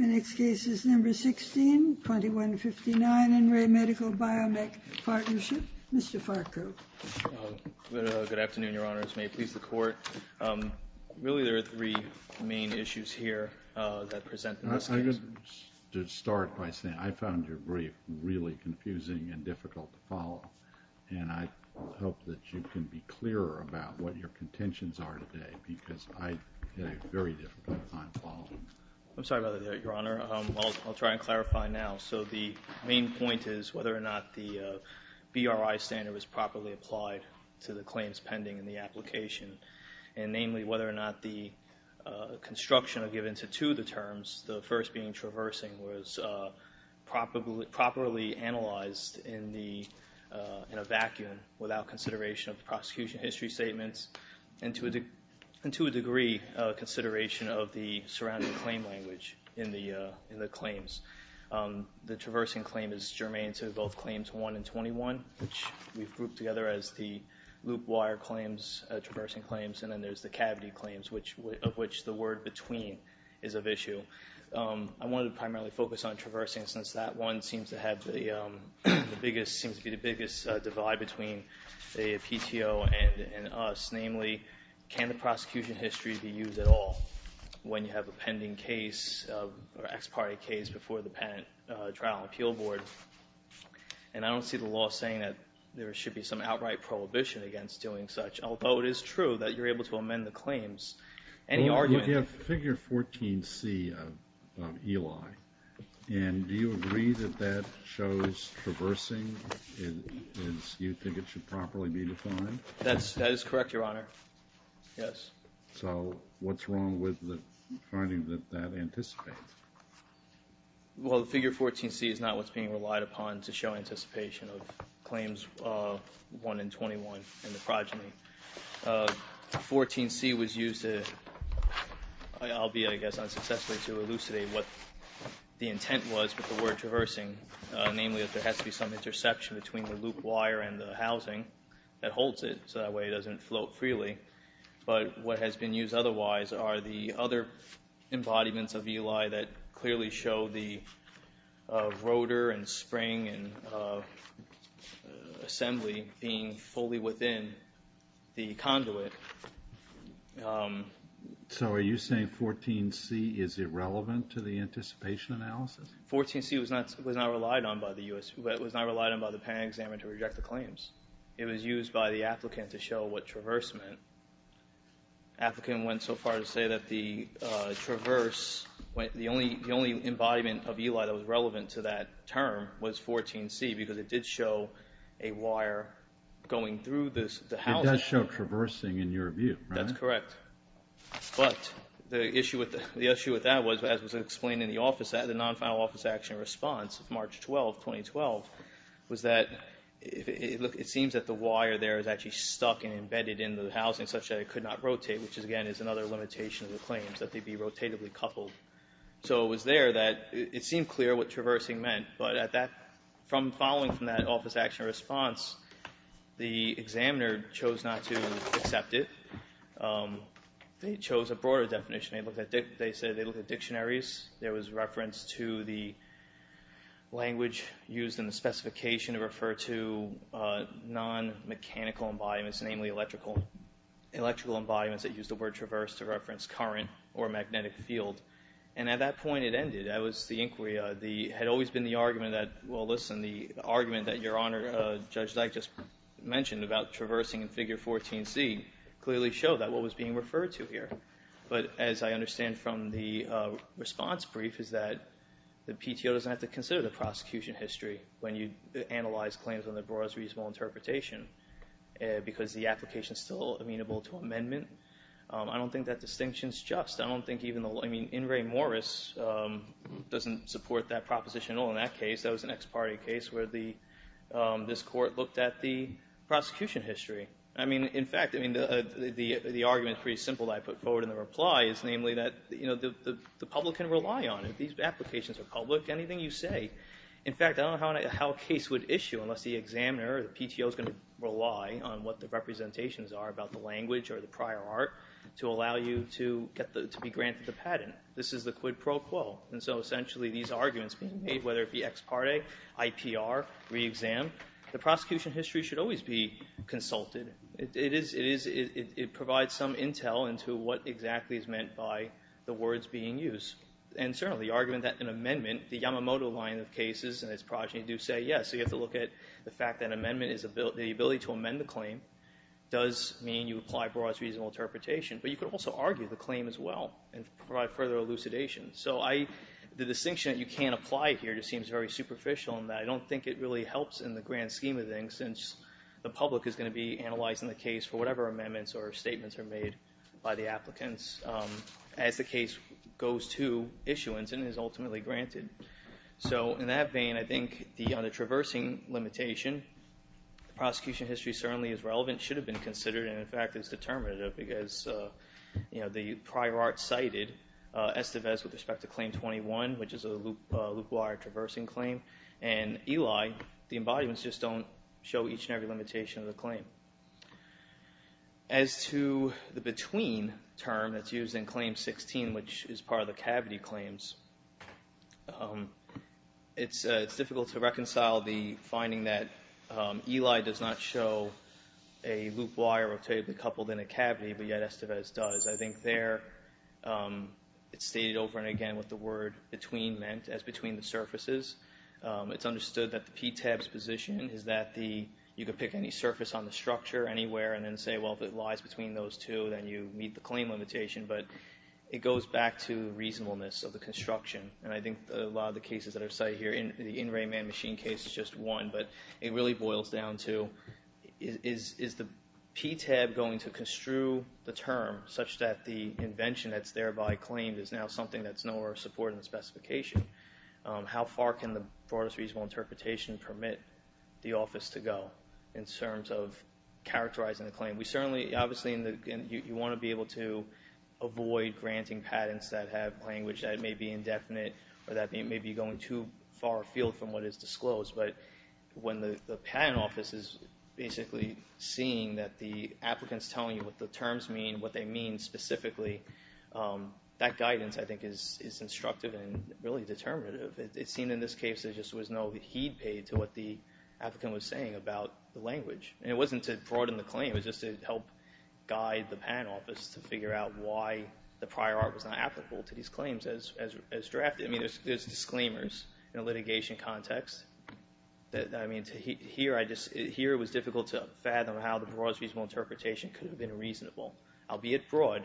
Next case is number 16, 2159 in Re Medical Biomech Partnership, Mr. Farquhar. Good afternoon, Your Honors. May it please the Court. Really, there are three main issues here that present in this case. I'm going to start by saying I found your brief really confusing and difficult to follow, and I hope that you can be clearer about what your contentions are today because I had a very difficult time following them. I'm sorry about that, Your Honor. I'll try and clarify now. So the main point is whether or not the BRI standard was properly applied to the claims pending in the application, and namely whether or not the construction given to two of the terms, the first being traversing, was properly analyzed in a vacuum without consideration of the prosecution history statements and to a degree consideration of the surrounding claim language in the claims. The traversing claim is germane to both claims 1 and 21, which we've grouped together as the loop wire claims, traversing claims, and then there's the cavity claims, of which the word between is of issue. I wanted to primarily focus on traversing since that one seems to have the biggest, seems to be the biggest divide between the PTO and us, namely can the prosecution history be used at all when you have a pending case or ex parte case before the trial and appeal board, and I don't see the law saying that there should be some outright prohibition against doing such, although it is true that you're able to amend the claims. Well, we have figure 14C of Eli, and do you agree that that shows traversing as you think it should properly be defined? That is correct, Your Honor. Yes. So what's wrong with the finding that that anticipates? Well, the figure 14C is not what's being relied upon to show anticipation of claims 1 and 21 in the progeny. 14C was used, albeit I guess unsuccessfully, to elucidate what the intent was with the word traversing, namely that there has to be some interception between the loop wire and the housing that holds it, so that way it doesn't float freely, but what has been used otherwise are the other embodiments of Eli that clearly show the rotor and spring and assembly being fully within the conduit. So are you saying 14C is irrelevant to the anticipation analysis? 14C was not relied on by the patent examiner to reject the claims. It was used by the applicant to show what traverse meant. The applicant went so far as to say that the traverse, the only embodiment of Eli that was relevant to that term was 14C because it did show a wire going through the housing. It does show traversing in your view, right? That's correct. But the issue with that was, as was explained in the office, the non-final office action response of March 12, 2012, was that it seems that the wire there is actually stuck and embedded in the housing such that it could not rotate, which again is another limitation of the claims, that they be rotatively coupled. So it was there that it seemed clear what traversing meant, but following from that office action response, the examiner chose not to accept it. They chose a broader definition. They said they looked at dictionaries. There was reference to the language used in the specification to refer to non-mechanical embodiments, namely electrical embodiments that used the word traverse to reference current or magnetic field. And at that point, it ended. That was the inquiry. It had always been the argument that, well, listen, the argument that Your Honor, Judge Dyke, just mentioned about traversing in Figure 14C clearly showed that what was being referred to here. But as I understand from the response brief is that the PTO doesn't have to consider the prosecution history when you analyze claims on the broadest reasonable interpretation because the application is still amenable to amendment. I don't think that distinction is just. I don't think even the law, I mean, In re Moris doesn't support that proposition at all in that case. That was an ex parte case where this court looked at the prosecution history. I mean, in fact, the argument is pretty simple that I put forward in the reply is namely that the public can rely on it. These applications are public. Anything you say. In fact, I don't know how a case would issue unless the examiner or the PTO is going to rely on what the representations are about the language or the prior art to allow you to be granted the patent. This is the quid pro quo. And so essentially these arguments being made, whether it be ex parte, IPR, re-exam, the prosecution history should always be consulted. It provides some intel into what exactly is meant by the words being used. And certainly the argument that an amendment, the Yamamoto line of cases and its progeny do say yes. You have to look at the fact that amendment is the ability to amend the claim does mean you apply broadest reasonable interpretation. But you could also argue the claim as well and provide further elucidation. So the distinction that you can't apply here just seems very superficial in that. I don't think it really helps in the grand scheme of things since the public is going to be analyzing the case for whatever amendments or statements are made by the applicants as the case goes to issuance and is ultimately granted. So in that vein, I think on the traversing limitation, the prosecution history certainly is relevant, should have been considered and in fact is determinative because the prior art cited Estevez with respect to claim 21, which is a loop wire traversing claim, and Eli, the embodiments just don't show each and every limitation of the claim. As to the between term that's used in claim 16, which is part of the cavity claims, it's difficult to reconcile the finding that Eli does not show a loop wire rotating coupled in a cavity, but yet Estevez does. I think there it's stated over and again what the word between meant as between the surfaces. It's understood that the PTAB's position is that you could pick any surface on the structure anywhere and then say, well, if it lies between those two, then you meet the claim limitation. But it goes back to reasonableness of the construction. And I think a lot of the cases that are cited here, the in-ray man machine case is just one, but it really boils down to is the PTAB going to construe the term such that the invention that's thereby claimed is now something that's no more supported in the specification? How far can the broadest reasonable interpretation permit the office to go in terms of characterizing the claim? We certainly, obviously, you want to be able to avoid granting patents that have language that may be indefinite or that may be going too far afield from what is disclosed. But when the patent office is basically seeing that the applicant's telling you what the terms mean, what they mean specifically, that guidance, I think, is instructive and really determinative. It seemed in this case there just was no heed paid to what the applicant was saying about the language. And it wasn't to broaden the claim. It was just to help guide the patent office to figure out why the prior art was not applicable to these claims as drafted. I mean, there's disclaimers in a litigation context. I mean, here it was difficult to fathom how the broadest reasonable interpretation could have been reasonable, albeit broad,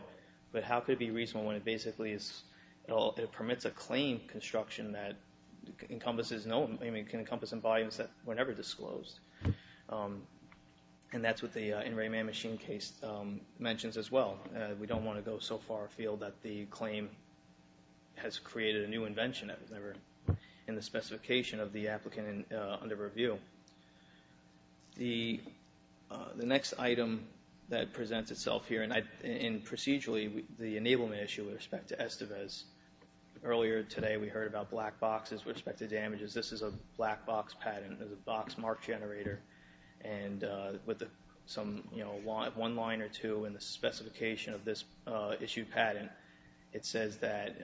but how could it be reasonable when it basically permits a claim construction that can encompass volumes that were never disclosed? And that's what the in-ray man machine case mentions as well. We don't want to go so far afield that the claim has created a new invention that was never in the specification of the applicant under review. The next item that presents itself here, and procedurally, the enablement issue with respect to Estevez, earlier today we heard about black boxes with respect to damages. This is a black box patent. There's a box mark generator. And with one line or two in the specification of this issue patent, it says that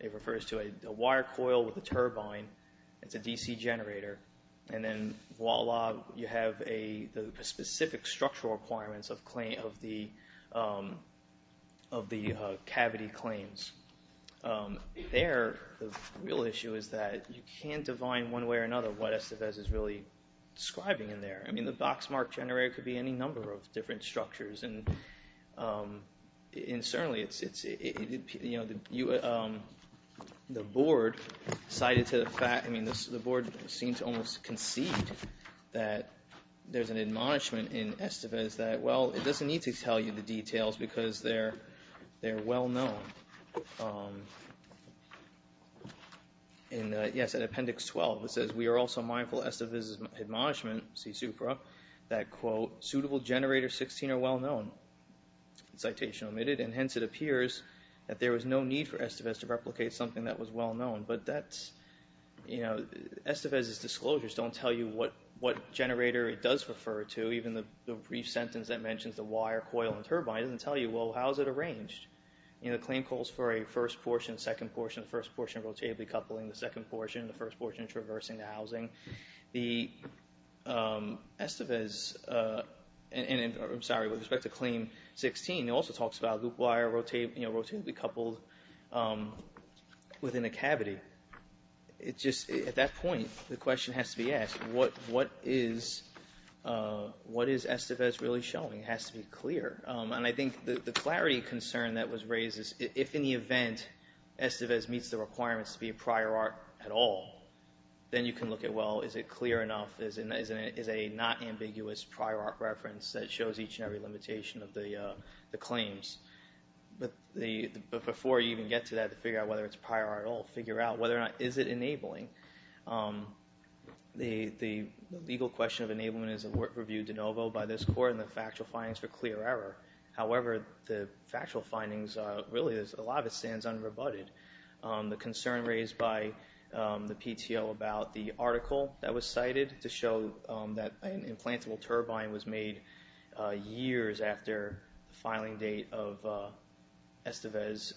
it refers to a wire coil with a turbine. It's a DC generator. And then voila, you have the specific structural requirements of the cavity claims. There, the real issue is that you can't define one way or another what Estevez is really describing in there. I mean, the box mark generator could be any number of different structures. And certainly it's, you know, the board cited to the fact, I mean, the board seemed to almost concede that there's an admonishment in Estevez that, well, it doesn't need to tell you the details because they're well known. And yes, in appendix 12, it says, we are also mindful of Estevez's admonishment, see supra, that, quote, suitable generator 16 are well known, citation omitted, and hence it appears that there was no need for Estevez to replicate something that was well known. But that's, you know, Estevez's disclosures don't tell you what generator it does refer to. Even the brief sentence that mentions the wire, coil, and turbine doesn't tell you, well, how is it arranged? You know, the claim calls for a first portion, second portion, first portion rotatively coupling, the second portion, the first portion traversing the housing. The Estevez, and I'm sorry, with respect to claim 16, it also talks about loop wire, you know, rotatively coupled within a cavity. It just, at that point, the question has to be asked, what is Estevez really showing? It has to be clear. And I think the clarity concern that was raised is if, in the event, Estevez meets the requirements to be a prior art at all, then you can look at, well, is it clear enough? Is it a not ambiguous prior art reference that shows each and every limitation of the claims? But before you even get to that, to figure out whether it's a prior art at all, figure out whether or not, is it enabling? The legal question of enablement is reviewed de novo by this court and the factual findings for clear error. However, the factual findings, really, a lot of it stands unrebutted. The concern raised by the PTO about the article that was cited to show that an implantable turbine was made years after the filing date of Estevez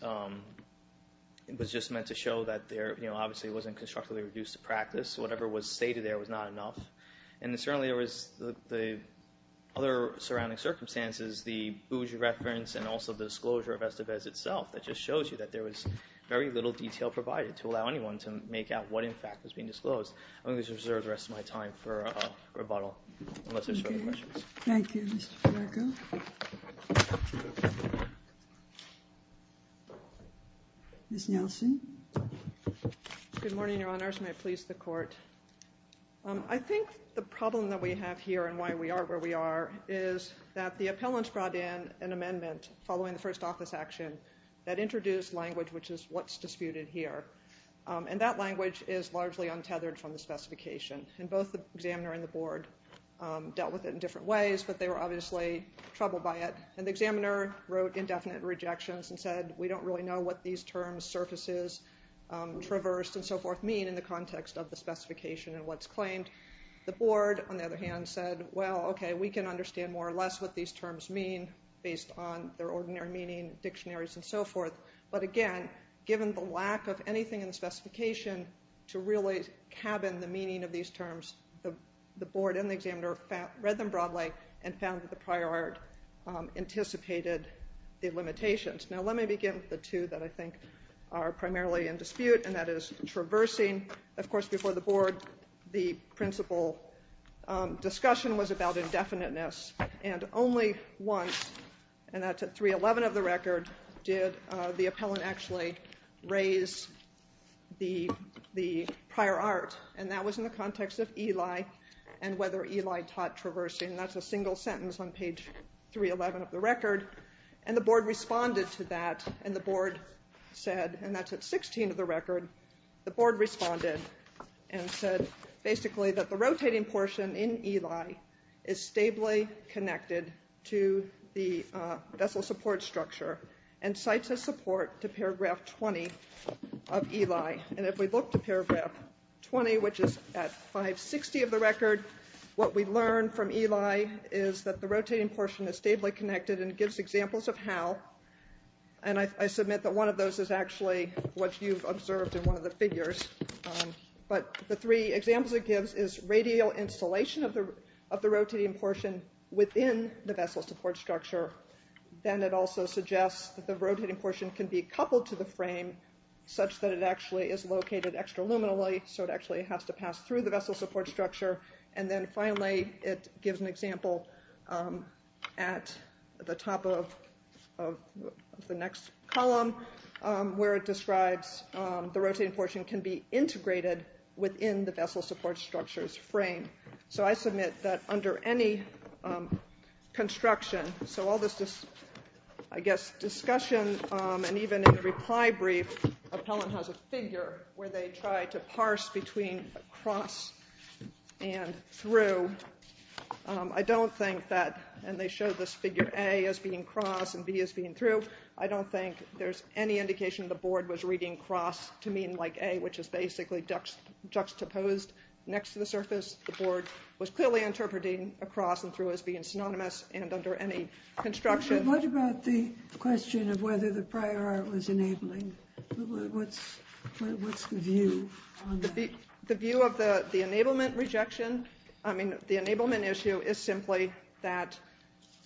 was just meant to show that there, you know, obviously it wasn't constructively reduced to practice. Whatever was stated there was not enough. And certainly, there was the other surrounding circumstances, the Bougie reference, and also the disclosure of Estevez itself that just shows you that there was very little detail provided to allow anyone to make out what, in fact, was being disclosed. I'm going to reserve the rest of my time for rebuttal, unless there's further questions. Thank you, Mr. Parker. Ms. Nelson? Good morning, Your Honor. May it please the Court. I think the problem that we have here and why we are where we are is that the appellants brought in an amendment following the first office action that introduced language, which is what's disputed here. And that language is largely untethered from the specification. And both the examiner and the board dealt with it in different ways, but they were obviously troubled by it. And the examiner wrote indefinite rejections and said, we don't really know what these terms, surfaces, traversed, and so forth, mean in the context of the specification and what's claimed. The board, on the other hand, said, well, okay, we can understand more or less what these terms mean based on their ordinary meaning, dictionaries, and so forth. But again, given the lack of anything in the specification to really cabin the meaning of these terms, the board and the examiner read them broadly and found that the prior art anticipated the limitations. Now, let me begin with the two that I think are primarily in dispute, and that is traversing. Of course, before the board, the principal discussion was about indefiniteness. And only once, and that's at 3.11 of the record, did the appellant actually raise the prior art. And that was in the context of Eli and whether Eli taught traversing. And that's a single sentence on page 3.11 of the record. And the board responded to that, and the board said, and that's at 16 of the record, the board responded and said basically that the rotating portion in Eli is stably connected to the vessel support structure and cites a support to paragraph 20 of Eli. And if we look to paragraph 20, which is at 5.60 of the record, what we learn from Eli is that the rotating portion is stably connected and gives examples of how. And I submit that one of those is actually what you've observed in one of the figures. But the three examples it gives is radial installation of the rotating portion within the vessel support structure. Then it also suggests that the rotating portion can be coupled to the frame such that it actually is located extraluminally, so it actually has to pass through the vessel support structure. And then finally, it gives an example at the top of the next column, where it describes the rotating portion can be integrated within the vessel support structure's frame. So I submit that under any construction, so all this, I guess, discussion, and even in the reply brief, Appellant has a figure where they try to parse between cross and through. I don't think that, and they show this figure A as being cross and B as being through, I don't think there's any indication the board was reading cross to mean like A, which is basically juxtaposed next to the surface. The board was clearly interpreting a cross and through as being synonymous and under any construction. What about the question of whether the prior art was enabling? What's the view on that? The view of the enablement rejection, I mean, the enablement issue is simply that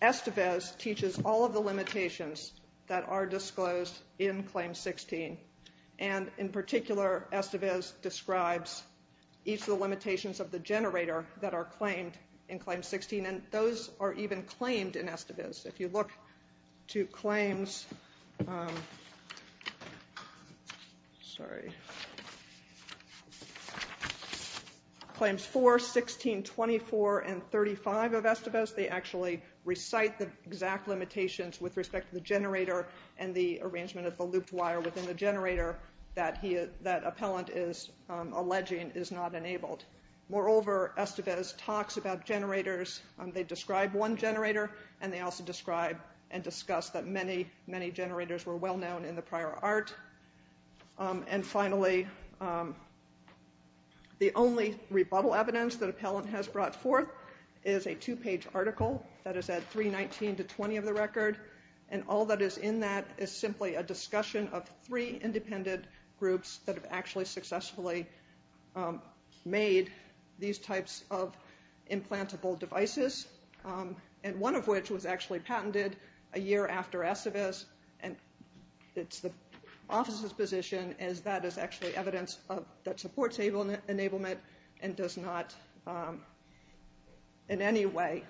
Estevez teaches all of the limitations that are disclosed in Claim 16. And in particular, Estevez describes each of the limitations of the generator that are claimed in Claim 16, and those are even claimed in Estevez. If you look to Claims 4, 16, 24, and 35 of Estevez, they actually recite the exact limitations with respect to the generator and the arrangement of the looped wire within the generator that Appellant is alleging is not enabled. Moreover, Estevez talks about generators, they describe one generator, and they also describe and discuss that many, many generators were well-known in the prior art. And finally, the only rebuttal evidence that Appellant has brought forth is a two-page article that is at 319 to 20 of the record, and all that is in that is simply a discussion of three independent groups that have actually successfully made these types of implantable devices, and one of which was actually patented a year after Estevez, and it's the office's position as that is actually evidence that supports enablement and does not in any way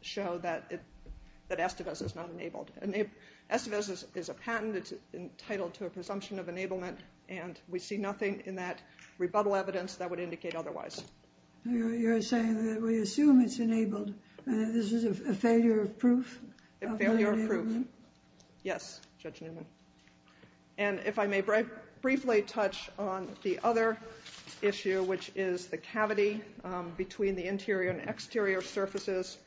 show that Estevez is not enabled. Estevez is a patent, it's entitled to a presumption of enablement, and we see nothing in that rebuttal evidence that would indicate otherwise. You're saying that we assume it's enabled, and this is a failure of proof? A failure of proof. Yes, Judge Newman. And if I may briefly touch on the other issue, which is the cavity between the interior and exterior surfaces,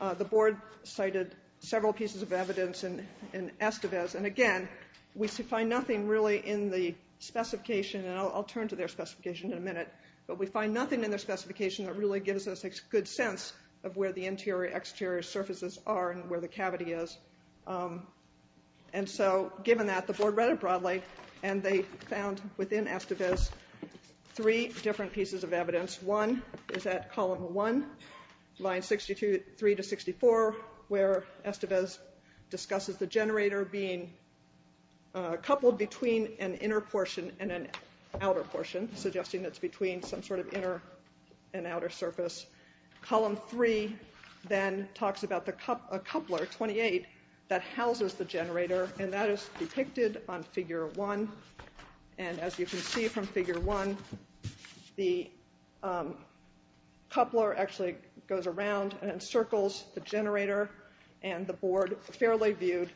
the board cited several pieces of evidence in Estevez, and again, we find nothing really in the specification, and I'll turn to their specification in a minute, but we find nothing in their specification that really gives us a good sense of where the interior and exterior surfaces are and where the cavity is. And so given that, the board read it broadly, and they found within Estevez three different pieces of evidence. Evidence one is at column one, lines 63 to 64, where Estevez discusses the generator being coupled between an inner portion and an outer portion, suggesting it's between some sort of inner and outer surface. Column three then talks about a coupler, 28, that houses the generator, and that is depicted on figure one, and as you can see from figure one, the coupler actually goes around and encircles the generator and the board fairly viewed,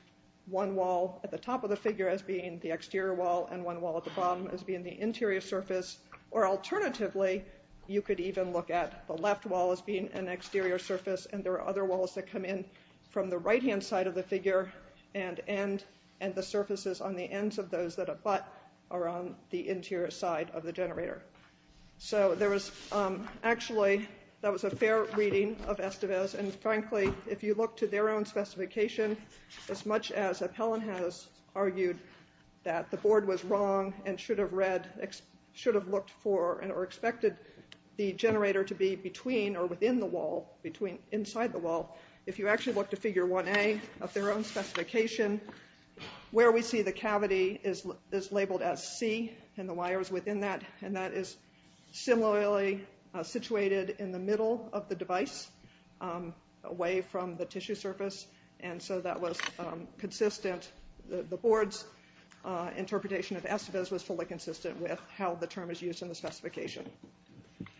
one wall at the top of the figure as being the exterior wall and one wall at the bottom as being the interior surface, or alternatively, you could even look at the left wall as being an exterior surface, and there are other walls that come in from the right-hand side of the figure and the surfaces on the ends of those that abut are on the interior side of the generator. So there was actually, that was a fair reading of Estevez, and frankly, if you look to their own specification, as much as Appellon has argued that the board was wrong and should have read, should have looked for and expected the generator to be between or within the wall, inside the wall, if you actually look to figure 1A of their own specification, where we see the cavity is labeled as C and the wires within that, and that is similarly situated in the middle of the device, away from the tissue surface, and so that was consistent, the board's interpretation of Estevez was fully consistent with how the term is used in the specification.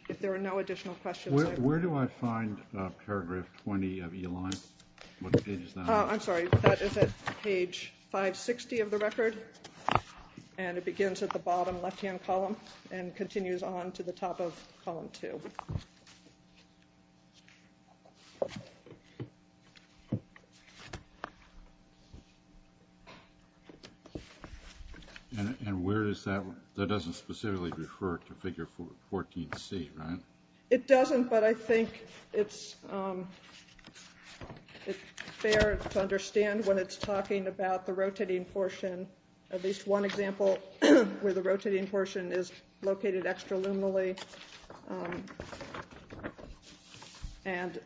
If there are no additional questions... Where do I find paragraph 20 of E-Line? What page is that on? I'm sorry, that is at page 560 of the record, and it begins at the bottom left-hand column and continues on to the top of column 2. And where does that, that doesn't specifically refer to figure 14C, right? It doesn't, but I think it's fair to understand when it's talking about the rotating portion, at least one example where the rotating portion is located extraluminally, and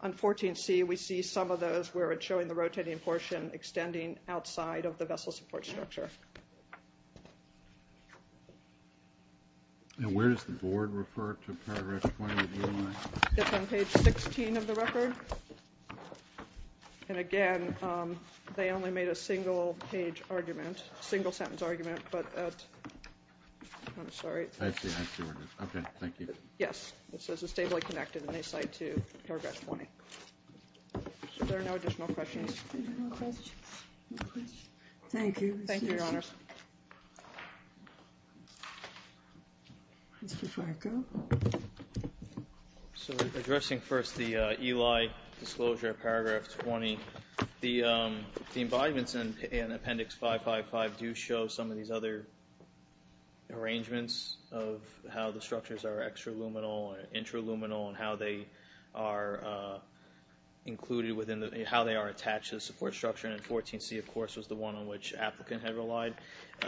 on 14C we see some of those where it's showing the rotating portion extending outside of the vessel support structure. And where does the board refer to paragraph 20 of E-Line? It's on page 16 of the record, and again, they only made a single page argument, single sentence argument, but... I'm sorry. I see, I see what it is. Okay, thank you. Yes, it says it's stably connected and they cite to paragraph 20. If there are no additional questions... No questions? Thank you. Thank you, Your Honor. So addressing first the E-Line disclosure of paragraph 20, the embodiments in appendix 555 do show some of these other arrangements of how the structures are extraluminal and intraluminal and how they are attached to the support structure, and 14C, of course, was the one on which the applicant had relied.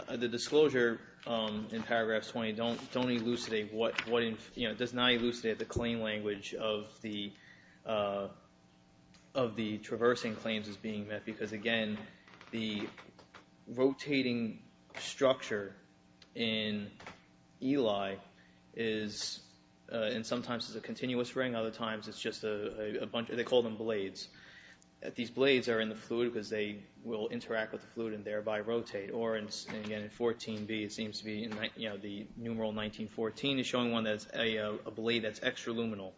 The disclosure in paragraph 20 does not elucidate the claim language of the traversing claims as being met, because again, the rotating structure in E-Line is... and sometimes it's a continuous ring, other times it's just a bunch of... they call them blades. These blades are in the fluid because they will interact with the fluid and thereby rotate. Or, again, in 14B, it seems to be... the numeral 1914 is showing one that's a blade that's extraluminal.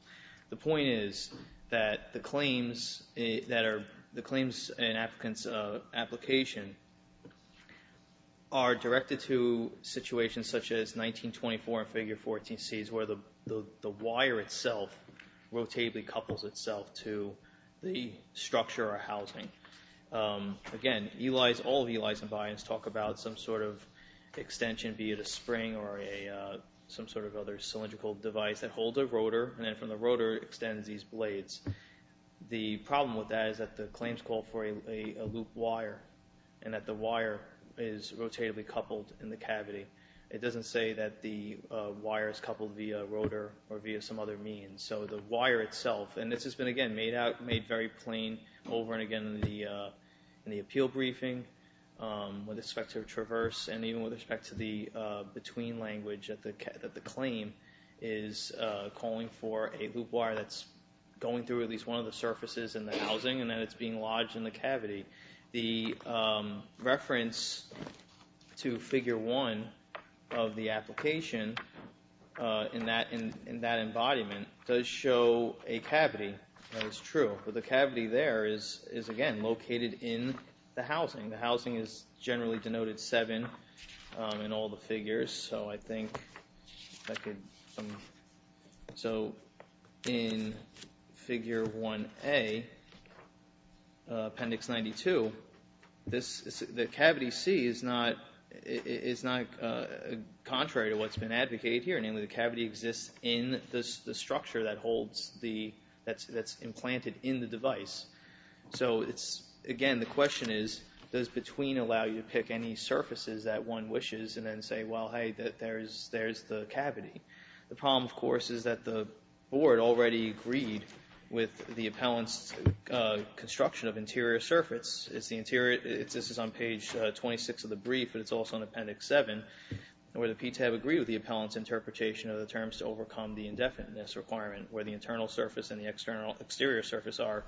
The point is that the claims in an applicant's application are directed to situations such as 1924 and figure 14Cs where the wire itself rotatably couples itself to the structure or housing. Again, all of E-Line's embodiments talk about some sort of extension, be it a spring or some sort of other cylindrical device that holds a rotor, and then from the rotor extends these blades. The problem with that is that the claims call for a loop wire and that the wire is rotatably coupled in the cavity. It doesn't say that the wire is coupled via rotor or via some other means. So the wire itself... and this has been, again, made very plain over and again in the appeal briefing with respect to traverse and even with respect to the between language that the claim is calling for a loop wire that's going through at least one of the surfaces in the housing and that it's being lodged in the cavity. The reference to figure 1 of the application in that embodiment does show a cavity. That is true. But the cavity there is, again, located in the housing. The housing is generally denoted 7 in all the figures. So I think I could... So in figure 1A, appendix 92, the cavity C is not contrary to what's been advocated here. Namely, the cavity exists in the structure that's implanted in the device. So, again, the question is, does between allow you to pick any surfaces that one wishes and then say, well, hey, there's the cavity. The problem, of course, is that the board already agreed with the appellant's construction of interior surface. This is on page 26 of the brief, but it's also in appendix 7, where the PTAB agreed with the appellant's interpretation of the terms to overcome the indefiniteness requirement where the internal surface and the exterior surface are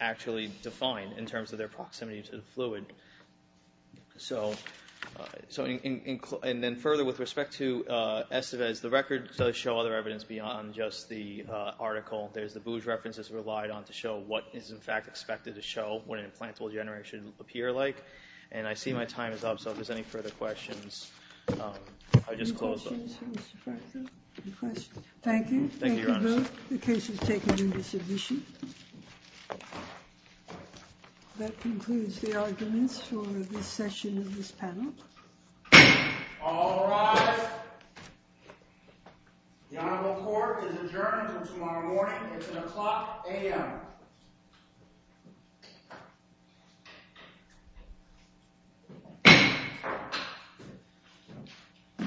actually defined in terms of their proximity to the fluid. So, and then further with respect to Estevez, the record does show other evidence beyond just the article. There's the Booge references relied on to show what is, in fact, expected to show what an implantable generator should appear like. And I see my time is up, so if there's any further questions, I'll just close. Any questions for Mr. Franco? Thank you. Thank you, Your Honor. The case is taken into submission. That concludes the arguments for this session of this panel. All rise. The Honorable Court is adjourned until tomorrow morning. It's at o'clock a.m.